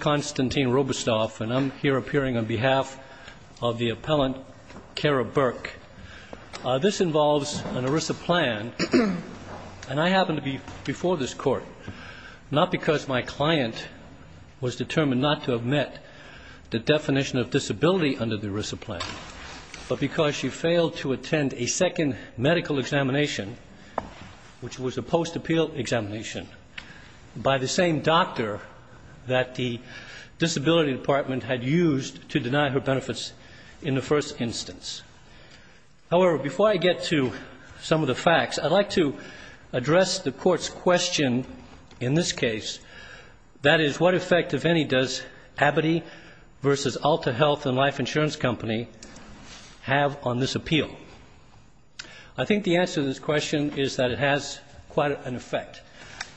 Constantine Robestoff Appearing on behalf of the Appellant, Kara Burke This involves an ERISA plan, and I happened to be before this Court, not because my client was determined not to have met the definition of disability under the ERISA plan, but because she failed to attend a second medical examination, which was a post-appeal examination, by the same doctor that the disability department had used to deny her benefits in the first instance. However, before I get to some of the facts, I'd like to address the Court's question in this case, that is, what effect, if any, does Abbotty v. Alta Health & Life Insurance Company have on this appeal? I think the answer to this question is that it has quite an effect,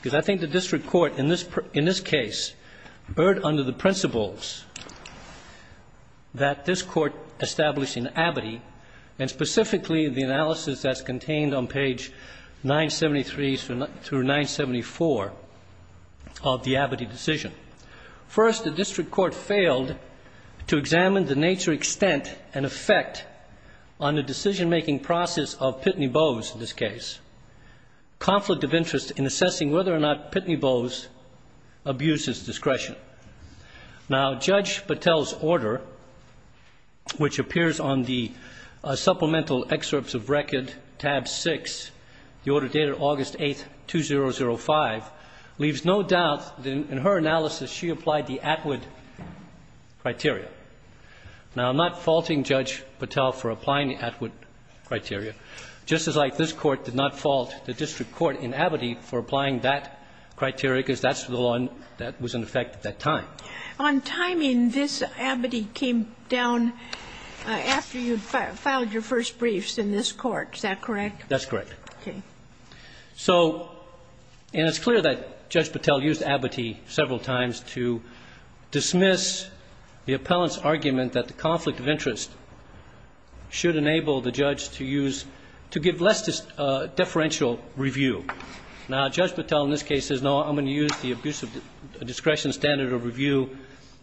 because I think the district court in this case erred under the principles that this Court established in Abbotty, and specifically the analysis that's contained on page 973 through 974 of the Abbotty decision. First, the district court failed to examine the nature, extent, and effect on the decision-making process of Pitney Bowes in this case. Conflict of interest in assessing whether or not Pitney Bowes abused his discretion. Now, Judge Patel's order, which appears on the supplemental excerpts of record, tab 6, the order dated August 8, 2005, leaves no doubt that in her analysis she applied the Atwood criteria. Now, I'm not faulting Judge Patel for applying the Atwood criteria, just as like this Court did not fault the district court in Abbotty for applying that criteria, because that's the law that was in effect at that time. On timing, this Abbotty came down after you filed your first briefs in this Court. Is that correct? That's correct. Okay. And it's clear that Judge Patel used Abbotty several times to dismiss the appellant's argument that the conflict of interest should enable the judge to give less deferential review. Now, Judge Patel in this case says, no, I'm going to use the abuse of discretion standard of review,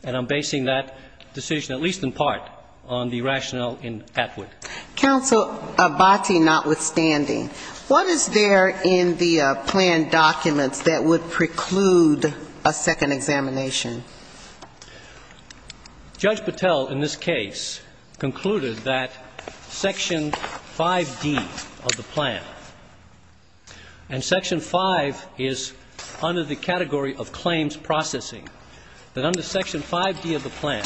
and I'm basing that decision, at least in part, on the rationale in Atwood. Counsel Abbotty notwithstanding, what is there in the plan documents that would preclude a second examination? Judge Patel in this case concluded that Section 5D of the plan, and Section 5 is under the category of claims processing, that under Section 5D of the plan,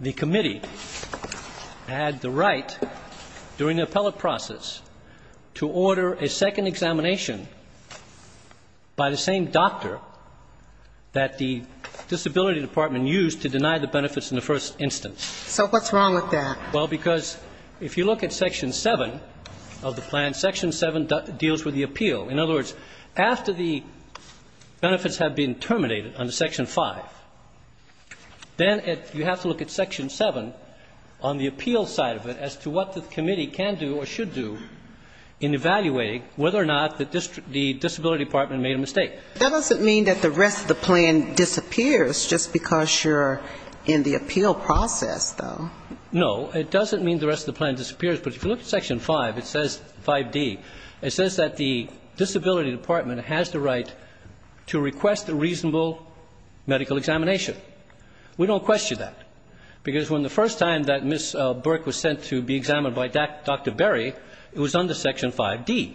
the committee had the right during the appellate process to order a second examination by the same doctor that the disability department used to deny the benefits in the first instance. So what's wrong with that? Well, because if you look at Section 7 of the plan, Section 7 deals with the appeal. In other words, after the benefits have been terminated under Section 5, then you have to look at Section 7 on the appeal side of it as to what the committee can do or should do in evaluating whether or not the disability department made a mistake. That doesn't mean that the rest of the plan disappears just because you're in the appeal process, though. No. It doesn't mean the rest of the plan disappears. But if you look at Section 5, it says 5D, it says that the disability department has the right to request a reasonable medical examination. We don't question that, because when the first time that Ms. Burke was sent to be examined by Dr. Berry, it was under Section 5D.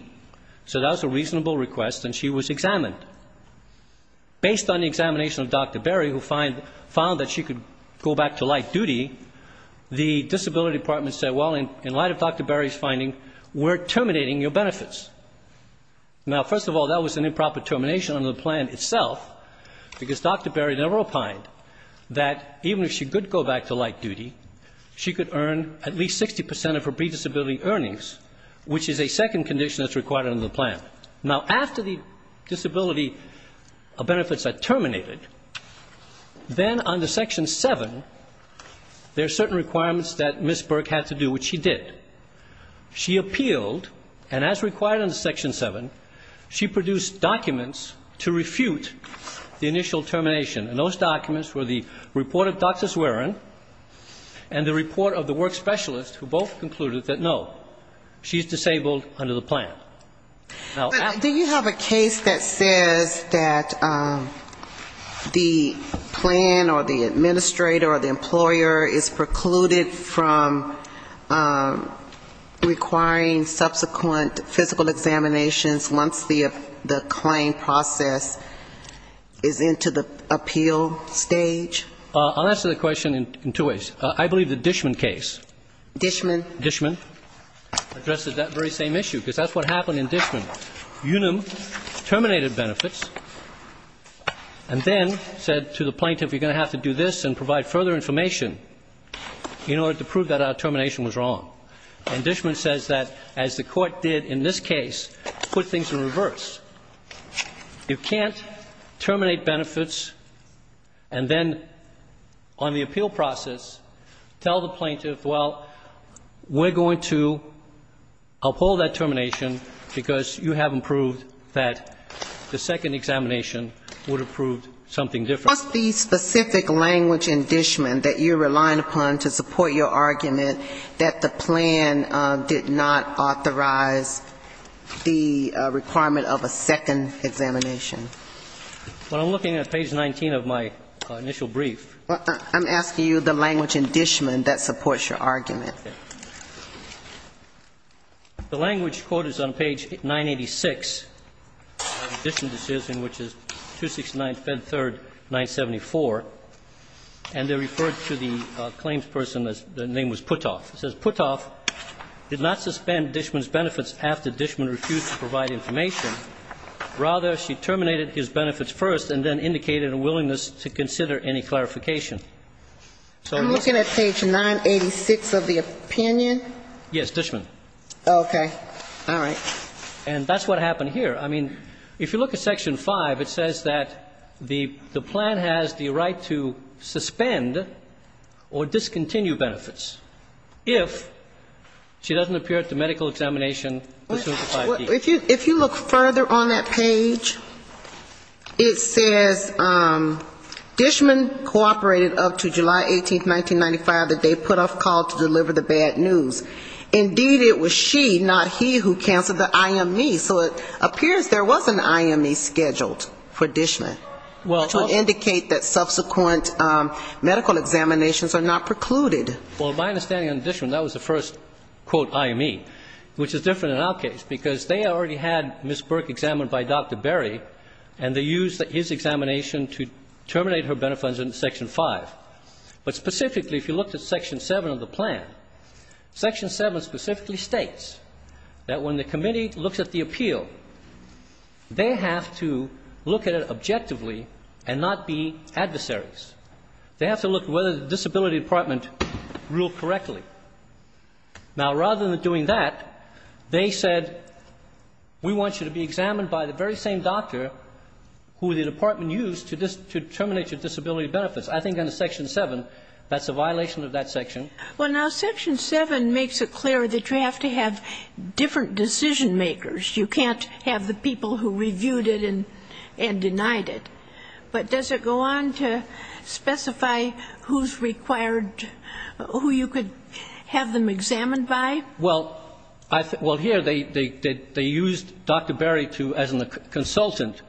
So that was a reasonable request, and she was examined. Based on the examination of Dr. Berry, who found that she could go back to light duty, the disability department said, well, in light of Dr. Berry's finding, we're terminating your benefits. Now, first of all, that was an improper termination under the plan itself, because Dr. Berry never opined that even if she could go back to light duty, she could earn at least 60 percent of her predisability earnings, which is a second condition that's required under the plan. Now, after the disability benefits are terminated, then under Section 7, there are certain requirements that Ms. Burke had to do, which she did. She appealed, and as required under Section 7, she produced documents to refute the initial termination. And those documents were the report of Dr. Swearen and the report of the work specialist, who both concluded that, no, she's disabled under the plan. Now, after Do you have a case that says that the plan or the administrator or the employer is precluded from requiring subsequent physical examinations once the claim process is into the appeal stage? I'll answer the question in two ways. I believe the Dishman case. Dishman? Dishman addressed that very same issue, because that's what happened in Dishman. Unum terminated benefits and then said to the plaintiff, you're going to have to do this and provide further information in order to prove that our termination was wrong. And Dishman says that, as the Court did in this case, put things in reverse. You can't terminate benefits and then on the appeal process tell the plaintiff, well, we're going to uphold that termination because you haven't proved that the second examination would have proved something different. What's the specific language in Dishman that you're relying upon to support your argument that the plan did not authorize the requirement of a second examination? Well, I'm looking at page 19 of my initial brief. I'm asking you the language in Dishman that supports your argument. The language, quote, is on page 986 of the Dishman decision, which is 269, Fed 3rd, 974. And they referred to the claims person. The name was Puthoff. It says, Puthoff did not suspend Dishman's benefits after Dishman refused to provide information. Rather, she terminated his benefits first and then indicated a willingness to consider any clarification. I'm looking at page 986 of the opinion. Yes, Dishman. Okay. All right. And that's what happened here. I mean, if you look at section 5, it says that the plan has the right to suspend or discontinue benefits if she doesn't appear at the medical examination. If you look further on that page, it says Dishman cooperated up to July 18, 1995, the day Puthoff called to deliver the bad news. Indeed, it was she, not he, who canceled the IME. So it appears there was an IME scheduled for Dishman, which would indicate that subsequent medical examinations are not precluded. Well, my understanding on Dishman, that was the first, quote, IME, which is different in our case because they already had Ms. Burke examined by Dr. Berry, and they used his examination to terminate her benefits in section 5. But specifically, if you look at section 7 of the plan, section 7 specifically states that when the committee looks at the appeal, they have to look at it objectively and not be adversaries. They have to look at whether the disability department ruled correctly. Now, rather than doing that, they said, we want you to be examined by the very same doctor who the department used to terminate your disability benefits. I think under section 7, that's a violation of that section. Well, now, section 7 makes it clear that you have to have different decision-makers. You can't have the people who reviewed it and denied it. But does it go on to specify who's required, who you could have them examined by? Well, here they used Dr. Berry as a consultant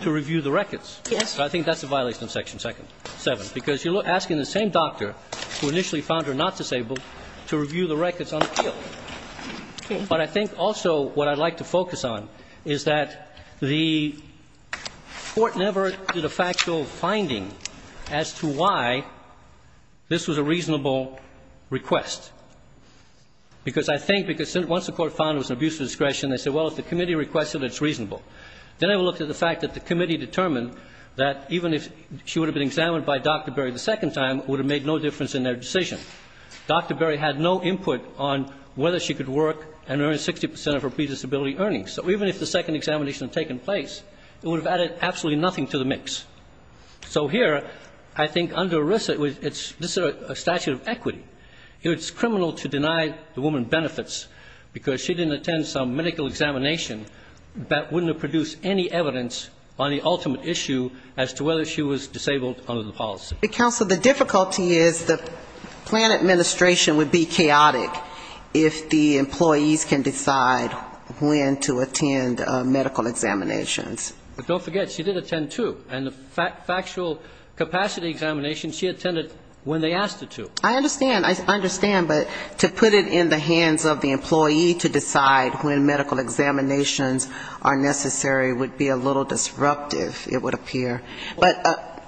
to review the records. Yes. I think that's a violation of section 7, because you're asking the same doctor who initially found her not disabled to review the records on appeal. Okay. But I think also what I'd like to focus on is that the Court never did a factual finding as to why this was a reasonable request. Because I think because once the Court found it was an abuse of discretion, they said, well, if the committee requested it, it's reasonable. They never looked at the fact that the committee determined that even if she would have been examined by Dr. Berry the second time, it would have made no difference in their decision. Dr. Berry had no input on whether she could work and earn 60 percent of her predisability earnings. So even if the second examination had taken place, it would have added absolutely nothing to the mix. So here, I think under ERISA, it's a statute of equity. It's criminal to deny the woman benefits because she didn't attend some medical examination that wouldn't have produced any evidence on the ultimate issue as to whether she was disabled under the policy. Counsel, the difficulty is the plan administration would be chaotic if the employees can decide when to attend medical examinations. But don't forget, she did attend two. And the factual capacity examination, she attended when they asked her to. I understand. I understand. But to put it in the hands of the employee to decide when medical examinations are necessary would be a little disruptive, it would appear. But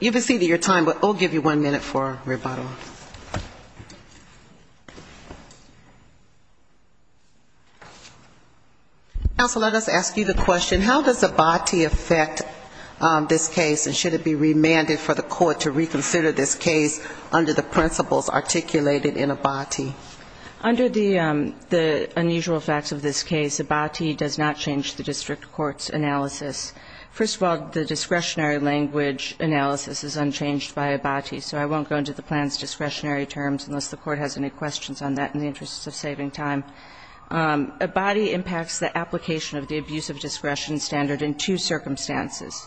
you've exceeded your time, but we'll give you one minute for rebuttal. Counsel, let us ask you the question, how does ABATI affect this case, and should it be remanded for the court to reconsider this case under the principles articulated in ABATI? Under the unusual facts of this case, ABATI does not change the district court's analysis. First of all, the discretionary language analysis is unchanged by ABATI, so I won't go into the plan's discretionary terms unless the court has any questions on that in the interest of saving time. ABATI impacts the application of the abuse of discretion standard in two circumstances.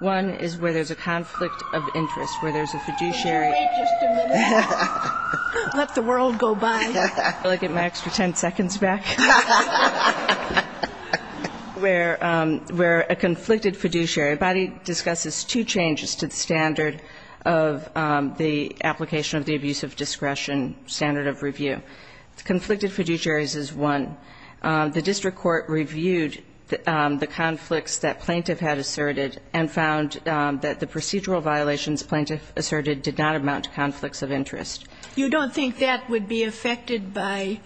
One is where there's a conflict of interest, where there's a fiduciary. Can you wait just a minute? Let the world go by. Can I get my extra ten seconds back? Where a conflicted fiduciary. ABATI discusses two changes to the standard of the application of the abuse of discretion standard of review. Conflicted fiduciaries is one. The district court reviewed the conflicts that plaintiff had asserted and found that the procedural violations plaintiff asserted did not amount to conflicts of interest. You don't think that would be affected by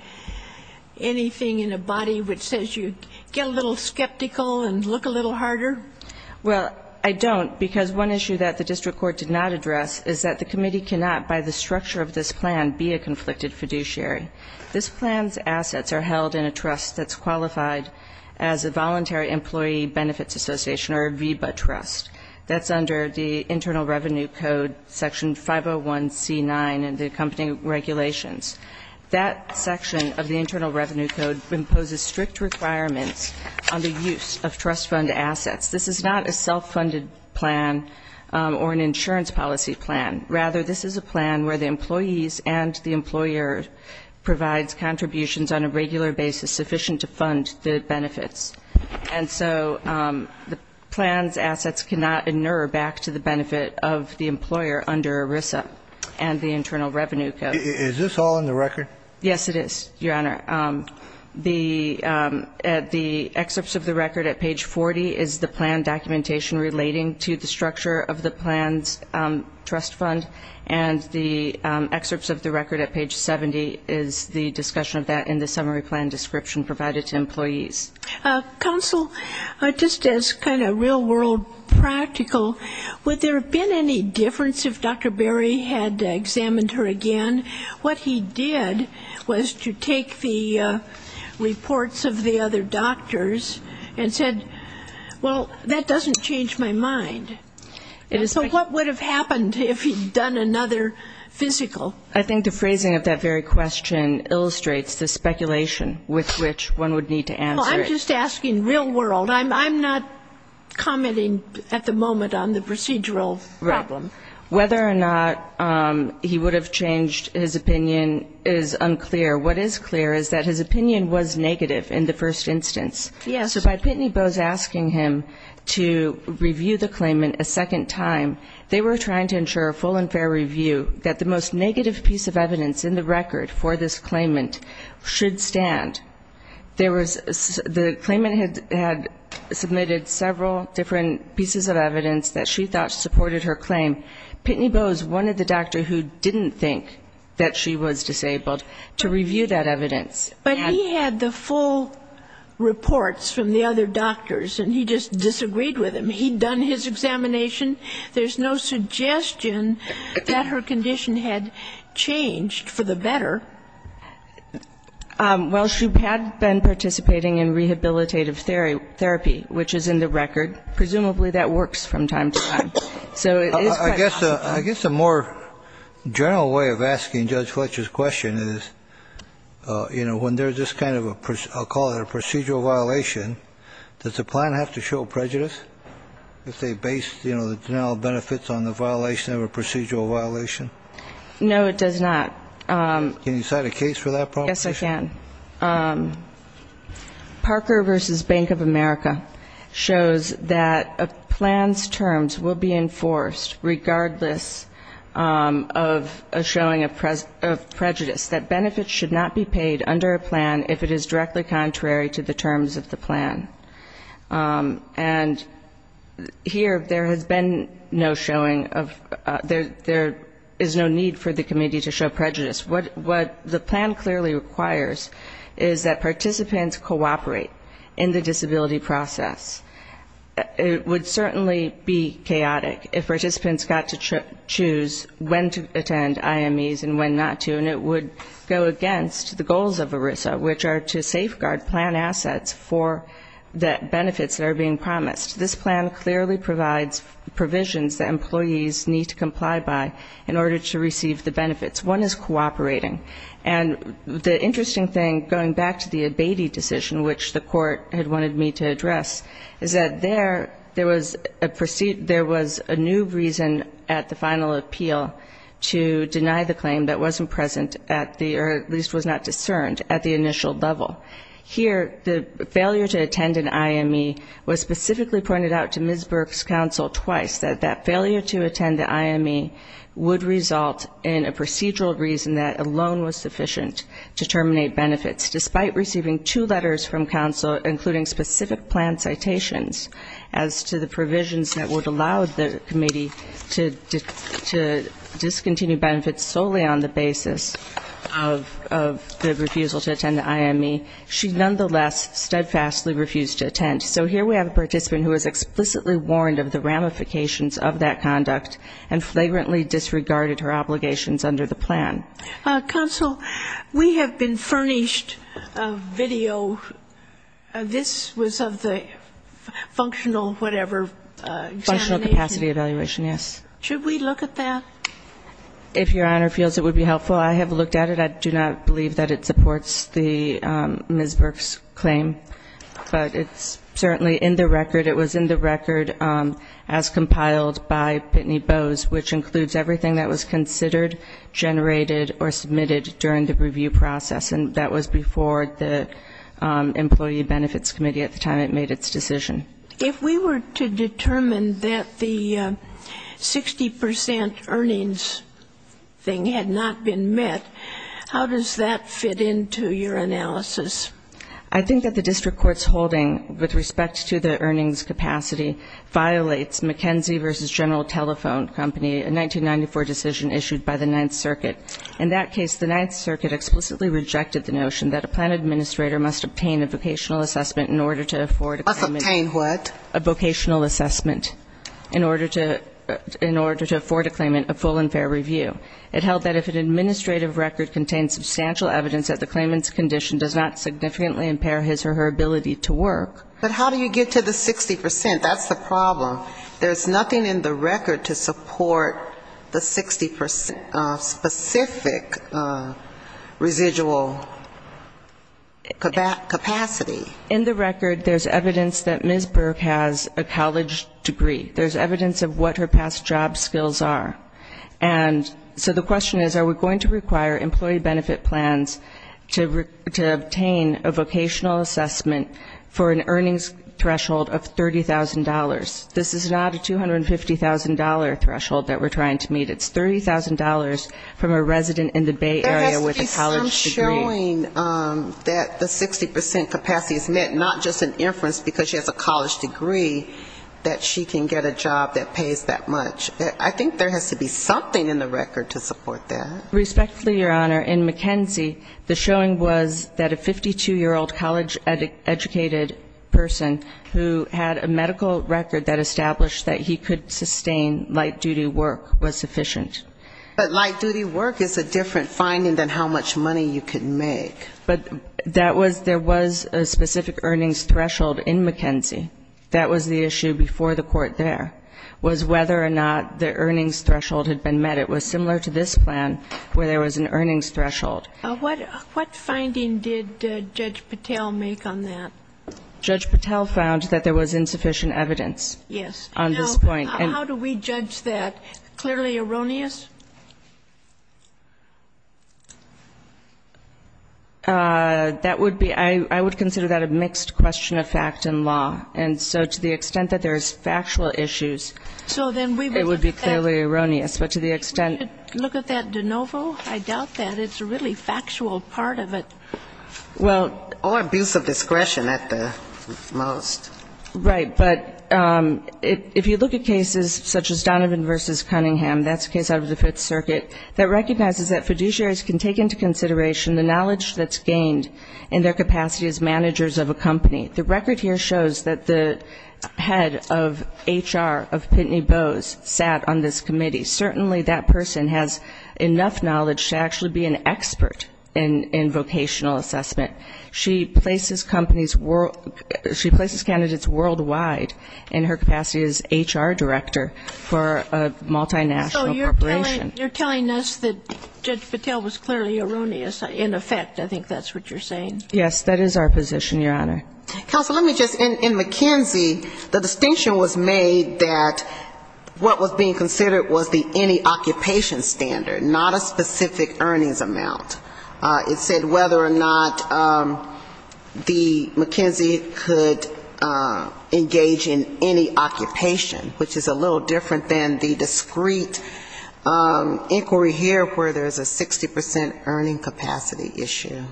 anything in ABATI which says you get a little skeptical and look a little harder? Well, I don't, because one issue that the district court did not address is that the committee cannot, by the structure of this plan, be a conflicted fiduciary. This plan's assets are held in a trust that's qualified as a Voluntary Employee Benefits Association, or a VBA trust. That's under the Internal Revenue Code Section 501C9 and the accompanying regulations. That section of the Internal Revenue Code imposes strict requirements on the use of trust fund assets. This is not a self-funded plan or an insurance policy plan. Rather, this is a plan where the employees and the employer provides contributions on a regular basis sufficient to fund the benefits. And so the plan's assets cannot inure back to the benefit of the employer under ERISA and the Internal Revenue Code. Is this all in the record? Yes, it is, Your Honor. The excerpts of the record at page 40 is the plan documentation relating to the structure of the plan's trust fund, and the excerpts of the record at page 70 is the discussion of that in the summary plan description provided to employees. Counsel, just as kind of real-world practical, would there have been any difference if Dr. Berry had examined her again? What he did was to take the reports of the other doctors and said, well, that doesn't change my mind. And so what would have happened if he'd done another physical? I think the phrasing of that very question illustrates the speculation with which one would need to answer it. Well, I'm just asking real-world. I'm not commenting at the moment on the procedural problem. Whether or not he would have changed his opinion is unclear. What is clear is that his opinion was negative in the first instance. Yes. So by Pitney Bowes asking him to review the claimant a second time, they were trying to ensure a full and fair review that the most negative piece of evidence in the record for this claimant should stand. The claimant had submitted several different pieces of evidence that she thought supported her claim. Pitney Bowes wanted the doctor who didn't think that she was disabled to review that evidence. But he had the full reports from the other doctors, and he just disagreed with him. He'd done his examination. There's no suggestion that her condition had changed for the better. Well, she had been participating in rehabilitative therapy, which is in the record. Presumably that works from time to time. I guess a more general way of asking Judge Fletcher's question is, you know, when there's this kind of a, I'll call it a procedural violation, does the plan have to show prejudice if they base the denial of benefits on the violation of a procedural violation? No, it does not. Can you cite a case for that proposition? Yes, I can. Parker v. Bank of America shows that a plan's terms will be enforced regardless of a showing of prejudice, that benefits should not be paid under a plan if it is directly contrary to the terms of the plan. And here there has been no showing of there is no need for the committee to show prejudice. What the plan clearly requires is that participants cooperate in the disability process. It would certainly be chaotic if participants got to choose when to attend IMEs and when not to, and it would go against the goals of ERISA, which are to safeguard plan assets for the benefits that are being promised. This plan clearly provides provisions that employees need to comply by in order to receive the benefits. One is cooperating. And the interesting thing, going back to the Abatey decision, which the court had wanted me to address, is that there was a new reason at the final appeal to deny the claim that wasn't present at the, or at least was not discerned at the initial level. Here the failure to attend an IME was specifically pointed out to Ms. Burke's counsel twice, that that failure to attend the IME would result in a procedural reason that alone was sufficient to terminate benefits. Despite receiving two letters from counsel, including specific plan citations, as to the provisions that would allow the committee to discontinue benefits solely on the basis of the refusal to attend the IME, she nonetheless steadfastly refused to attend. So here we have a participant who is explicitly warned of the ramifications of that conduct and flagrantly disregarded her obligations under the plan. Counsel, we have been furnished a video. This was of the functional whatever examination. Functional capacity evaluation, yes. Should we look at that? If Your Honor feels it would be helpful, I have looked at it. I do not believe that it supports Ms. Burke's claim. But it's certainly in the record. It was in the record as compiled by Pitney Bowes, which includes everything that was considered, generated, or submitted during the review process, and that was before the Employee Benefits Committee at the time it made its decision. If we were to determine that the 60 percent earnings thing had not been met, how does that fit into your analysis? I think that the district court's holding with respect to the earnings capacity violates McKenzie v. General Telephone Company, a 1994 decision issued by the Ninth Circuit. In that case, the Ninth Circuit explicitly rejected the notion that a plan administrator must obtain a vocational assessment in order to afford a claimant a full and fair review. Must obtain what? A vocational assessment in order to afford a claimant a full and fair review. It held that if an administrative record contained substantial evidence that the claimant's condition does not significantly impair his or her ability to work. But how do you get to the 60 percent? That's the problem. There's nothing in the record to support the 60 percent specific residual capacity. In the record there's evidence that Ms. Burke has a college degree. There's evidence of what her past job skills are. And so the question is, are we going to require employee benefit plans to obtain a vocational assessment for an earnings threshold of $30,000? This is not a $250,000 threshold that we're trying to meet. It's $30,000 from a resident in the Bay Area with a college degree. There has to be some showing that the 60 percent capacity is met, not just an inference because she has a college degree that she can get a job that pays that much. I think there has to be something in the record to support that. Respectfully, Your Honor, in McKenzie the showing was that a 52-year-old college-educated person who had a medical record that established that he could sustain light-duty work was sufficient. But light-duty work is a different finding than how much money you can make. But that was there was a specific earnings threshold in McKenzie. That was the issue before the court there, was whether or not the earnings threshold had been met. But it was similar to this plan where there was an earnings threshold. What finding did Judge Patel make on that? Judge Patel found that there was insufficient evidence on this point. Now, how do we judge that? Clearly erroneous? That would be, I would consider that a mixed question of fact and law. And so to the extent that there is factual issues, it would be clearly erroneous. But to the extent you look at that de novo, I doubt that. It's a really factual part of it. Or abuse of discretion at the most. Right. But if you look at cases such as Donovan v. Cunningham, that's a case out of the Fifth Circuit, that recognizes that fiduciaries can take into consideration the knowledge that's gained in their capacity as managers of a company. The record here shows that the head of HR of Pitney Bowes sat on this committee. Certainly that person has enough knowledge to actually be an expert in vocational assessment. She places companies world ñ she places candidates worldwide in her capacity as HR director for a multinational corporation. So you're telling us that Judge Patel was clearly erroneous in effect. I think that's what you're saying. Yes, that is our position, Your Honor. Counsel, let me just ñ in McKinsey, the distinction was made that what was being considered was the any occupation standard, not a specific earnings amount. It said whether or not the McKinsey could engage in any occupation, which is a little different than the discrete inquiry here where there's a 60 percent earning capacity issue.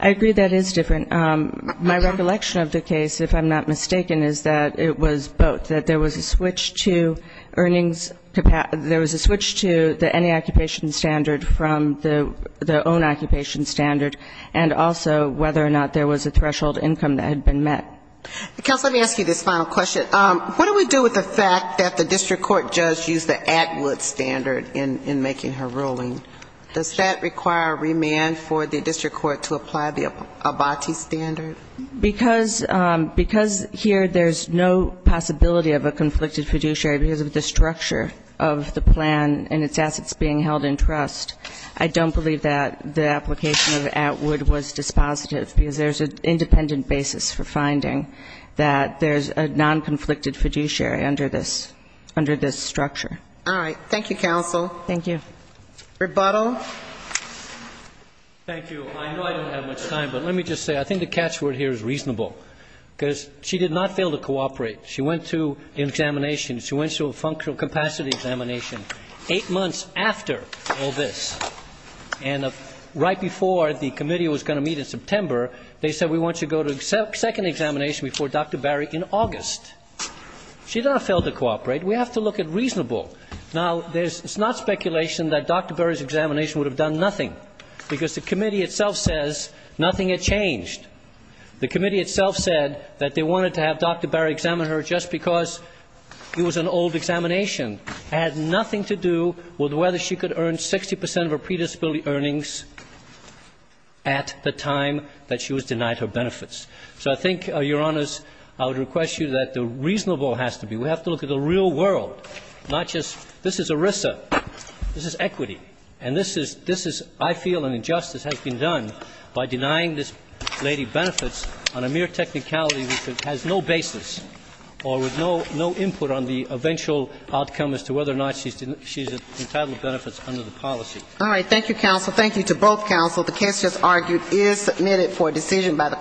I agree that is different. My recollection of the case, if I'm not mistaken, is that it was both, that there was a switch to earnings ñ there was a switch to the any occupation standard from the own occupation standard and also whether or not there was a threshold income that had been met. Counsel, let me ask you this final question. What do we do with the fact that the district court judge used the Atwood standard in making her ruling? Does that require remand for the district court to apply the Abati standard? Because here there's no possibility of a conflicted fiduciary because of the structure of the plan and its assets being held in trust, I don't believe that the application of Atwood was dispositive because there's an independent basis for finding that there's a non-conflicted fiduciary under this structure. All right. Thank you, Counsel. Thank you. Rebuttal. Thank you. I know I don't have much time, but let me just say I think the catch word here is reasonable because she did not fail to cooperate. She went to an examination. She went to a functional capacity examination 8 months after all this. And right before the committee was going to meet in September, they said we want you to go to a second examination before Dr. Barry in August. She did not fail to cooperate. We have to look at reasonable. Now, there's not speculation that Dr. Barry's examination would have done nothing because the committee itself says nothing had changed. The committee itself said that they wanted to have Dr. Barry examine her just because it was an old examination. It had nothing to do with whether she could earn 60 percent of her predisability earnings at the time that she was denied her benefits. So I think, Your Honors, I would request you that the reasonable has to be. We have to look at the real world, not just this is ERISA. This is equity. And this is I feel an injustice has been done by denying this lady benefits on a mere technicality which has no basis or with no input on the eventual outcome as to whether or not she's entitled benefits under the policy. All right. Thank you, counsel. Thank you to both counsel. The case just argued is submitted for decision by the court.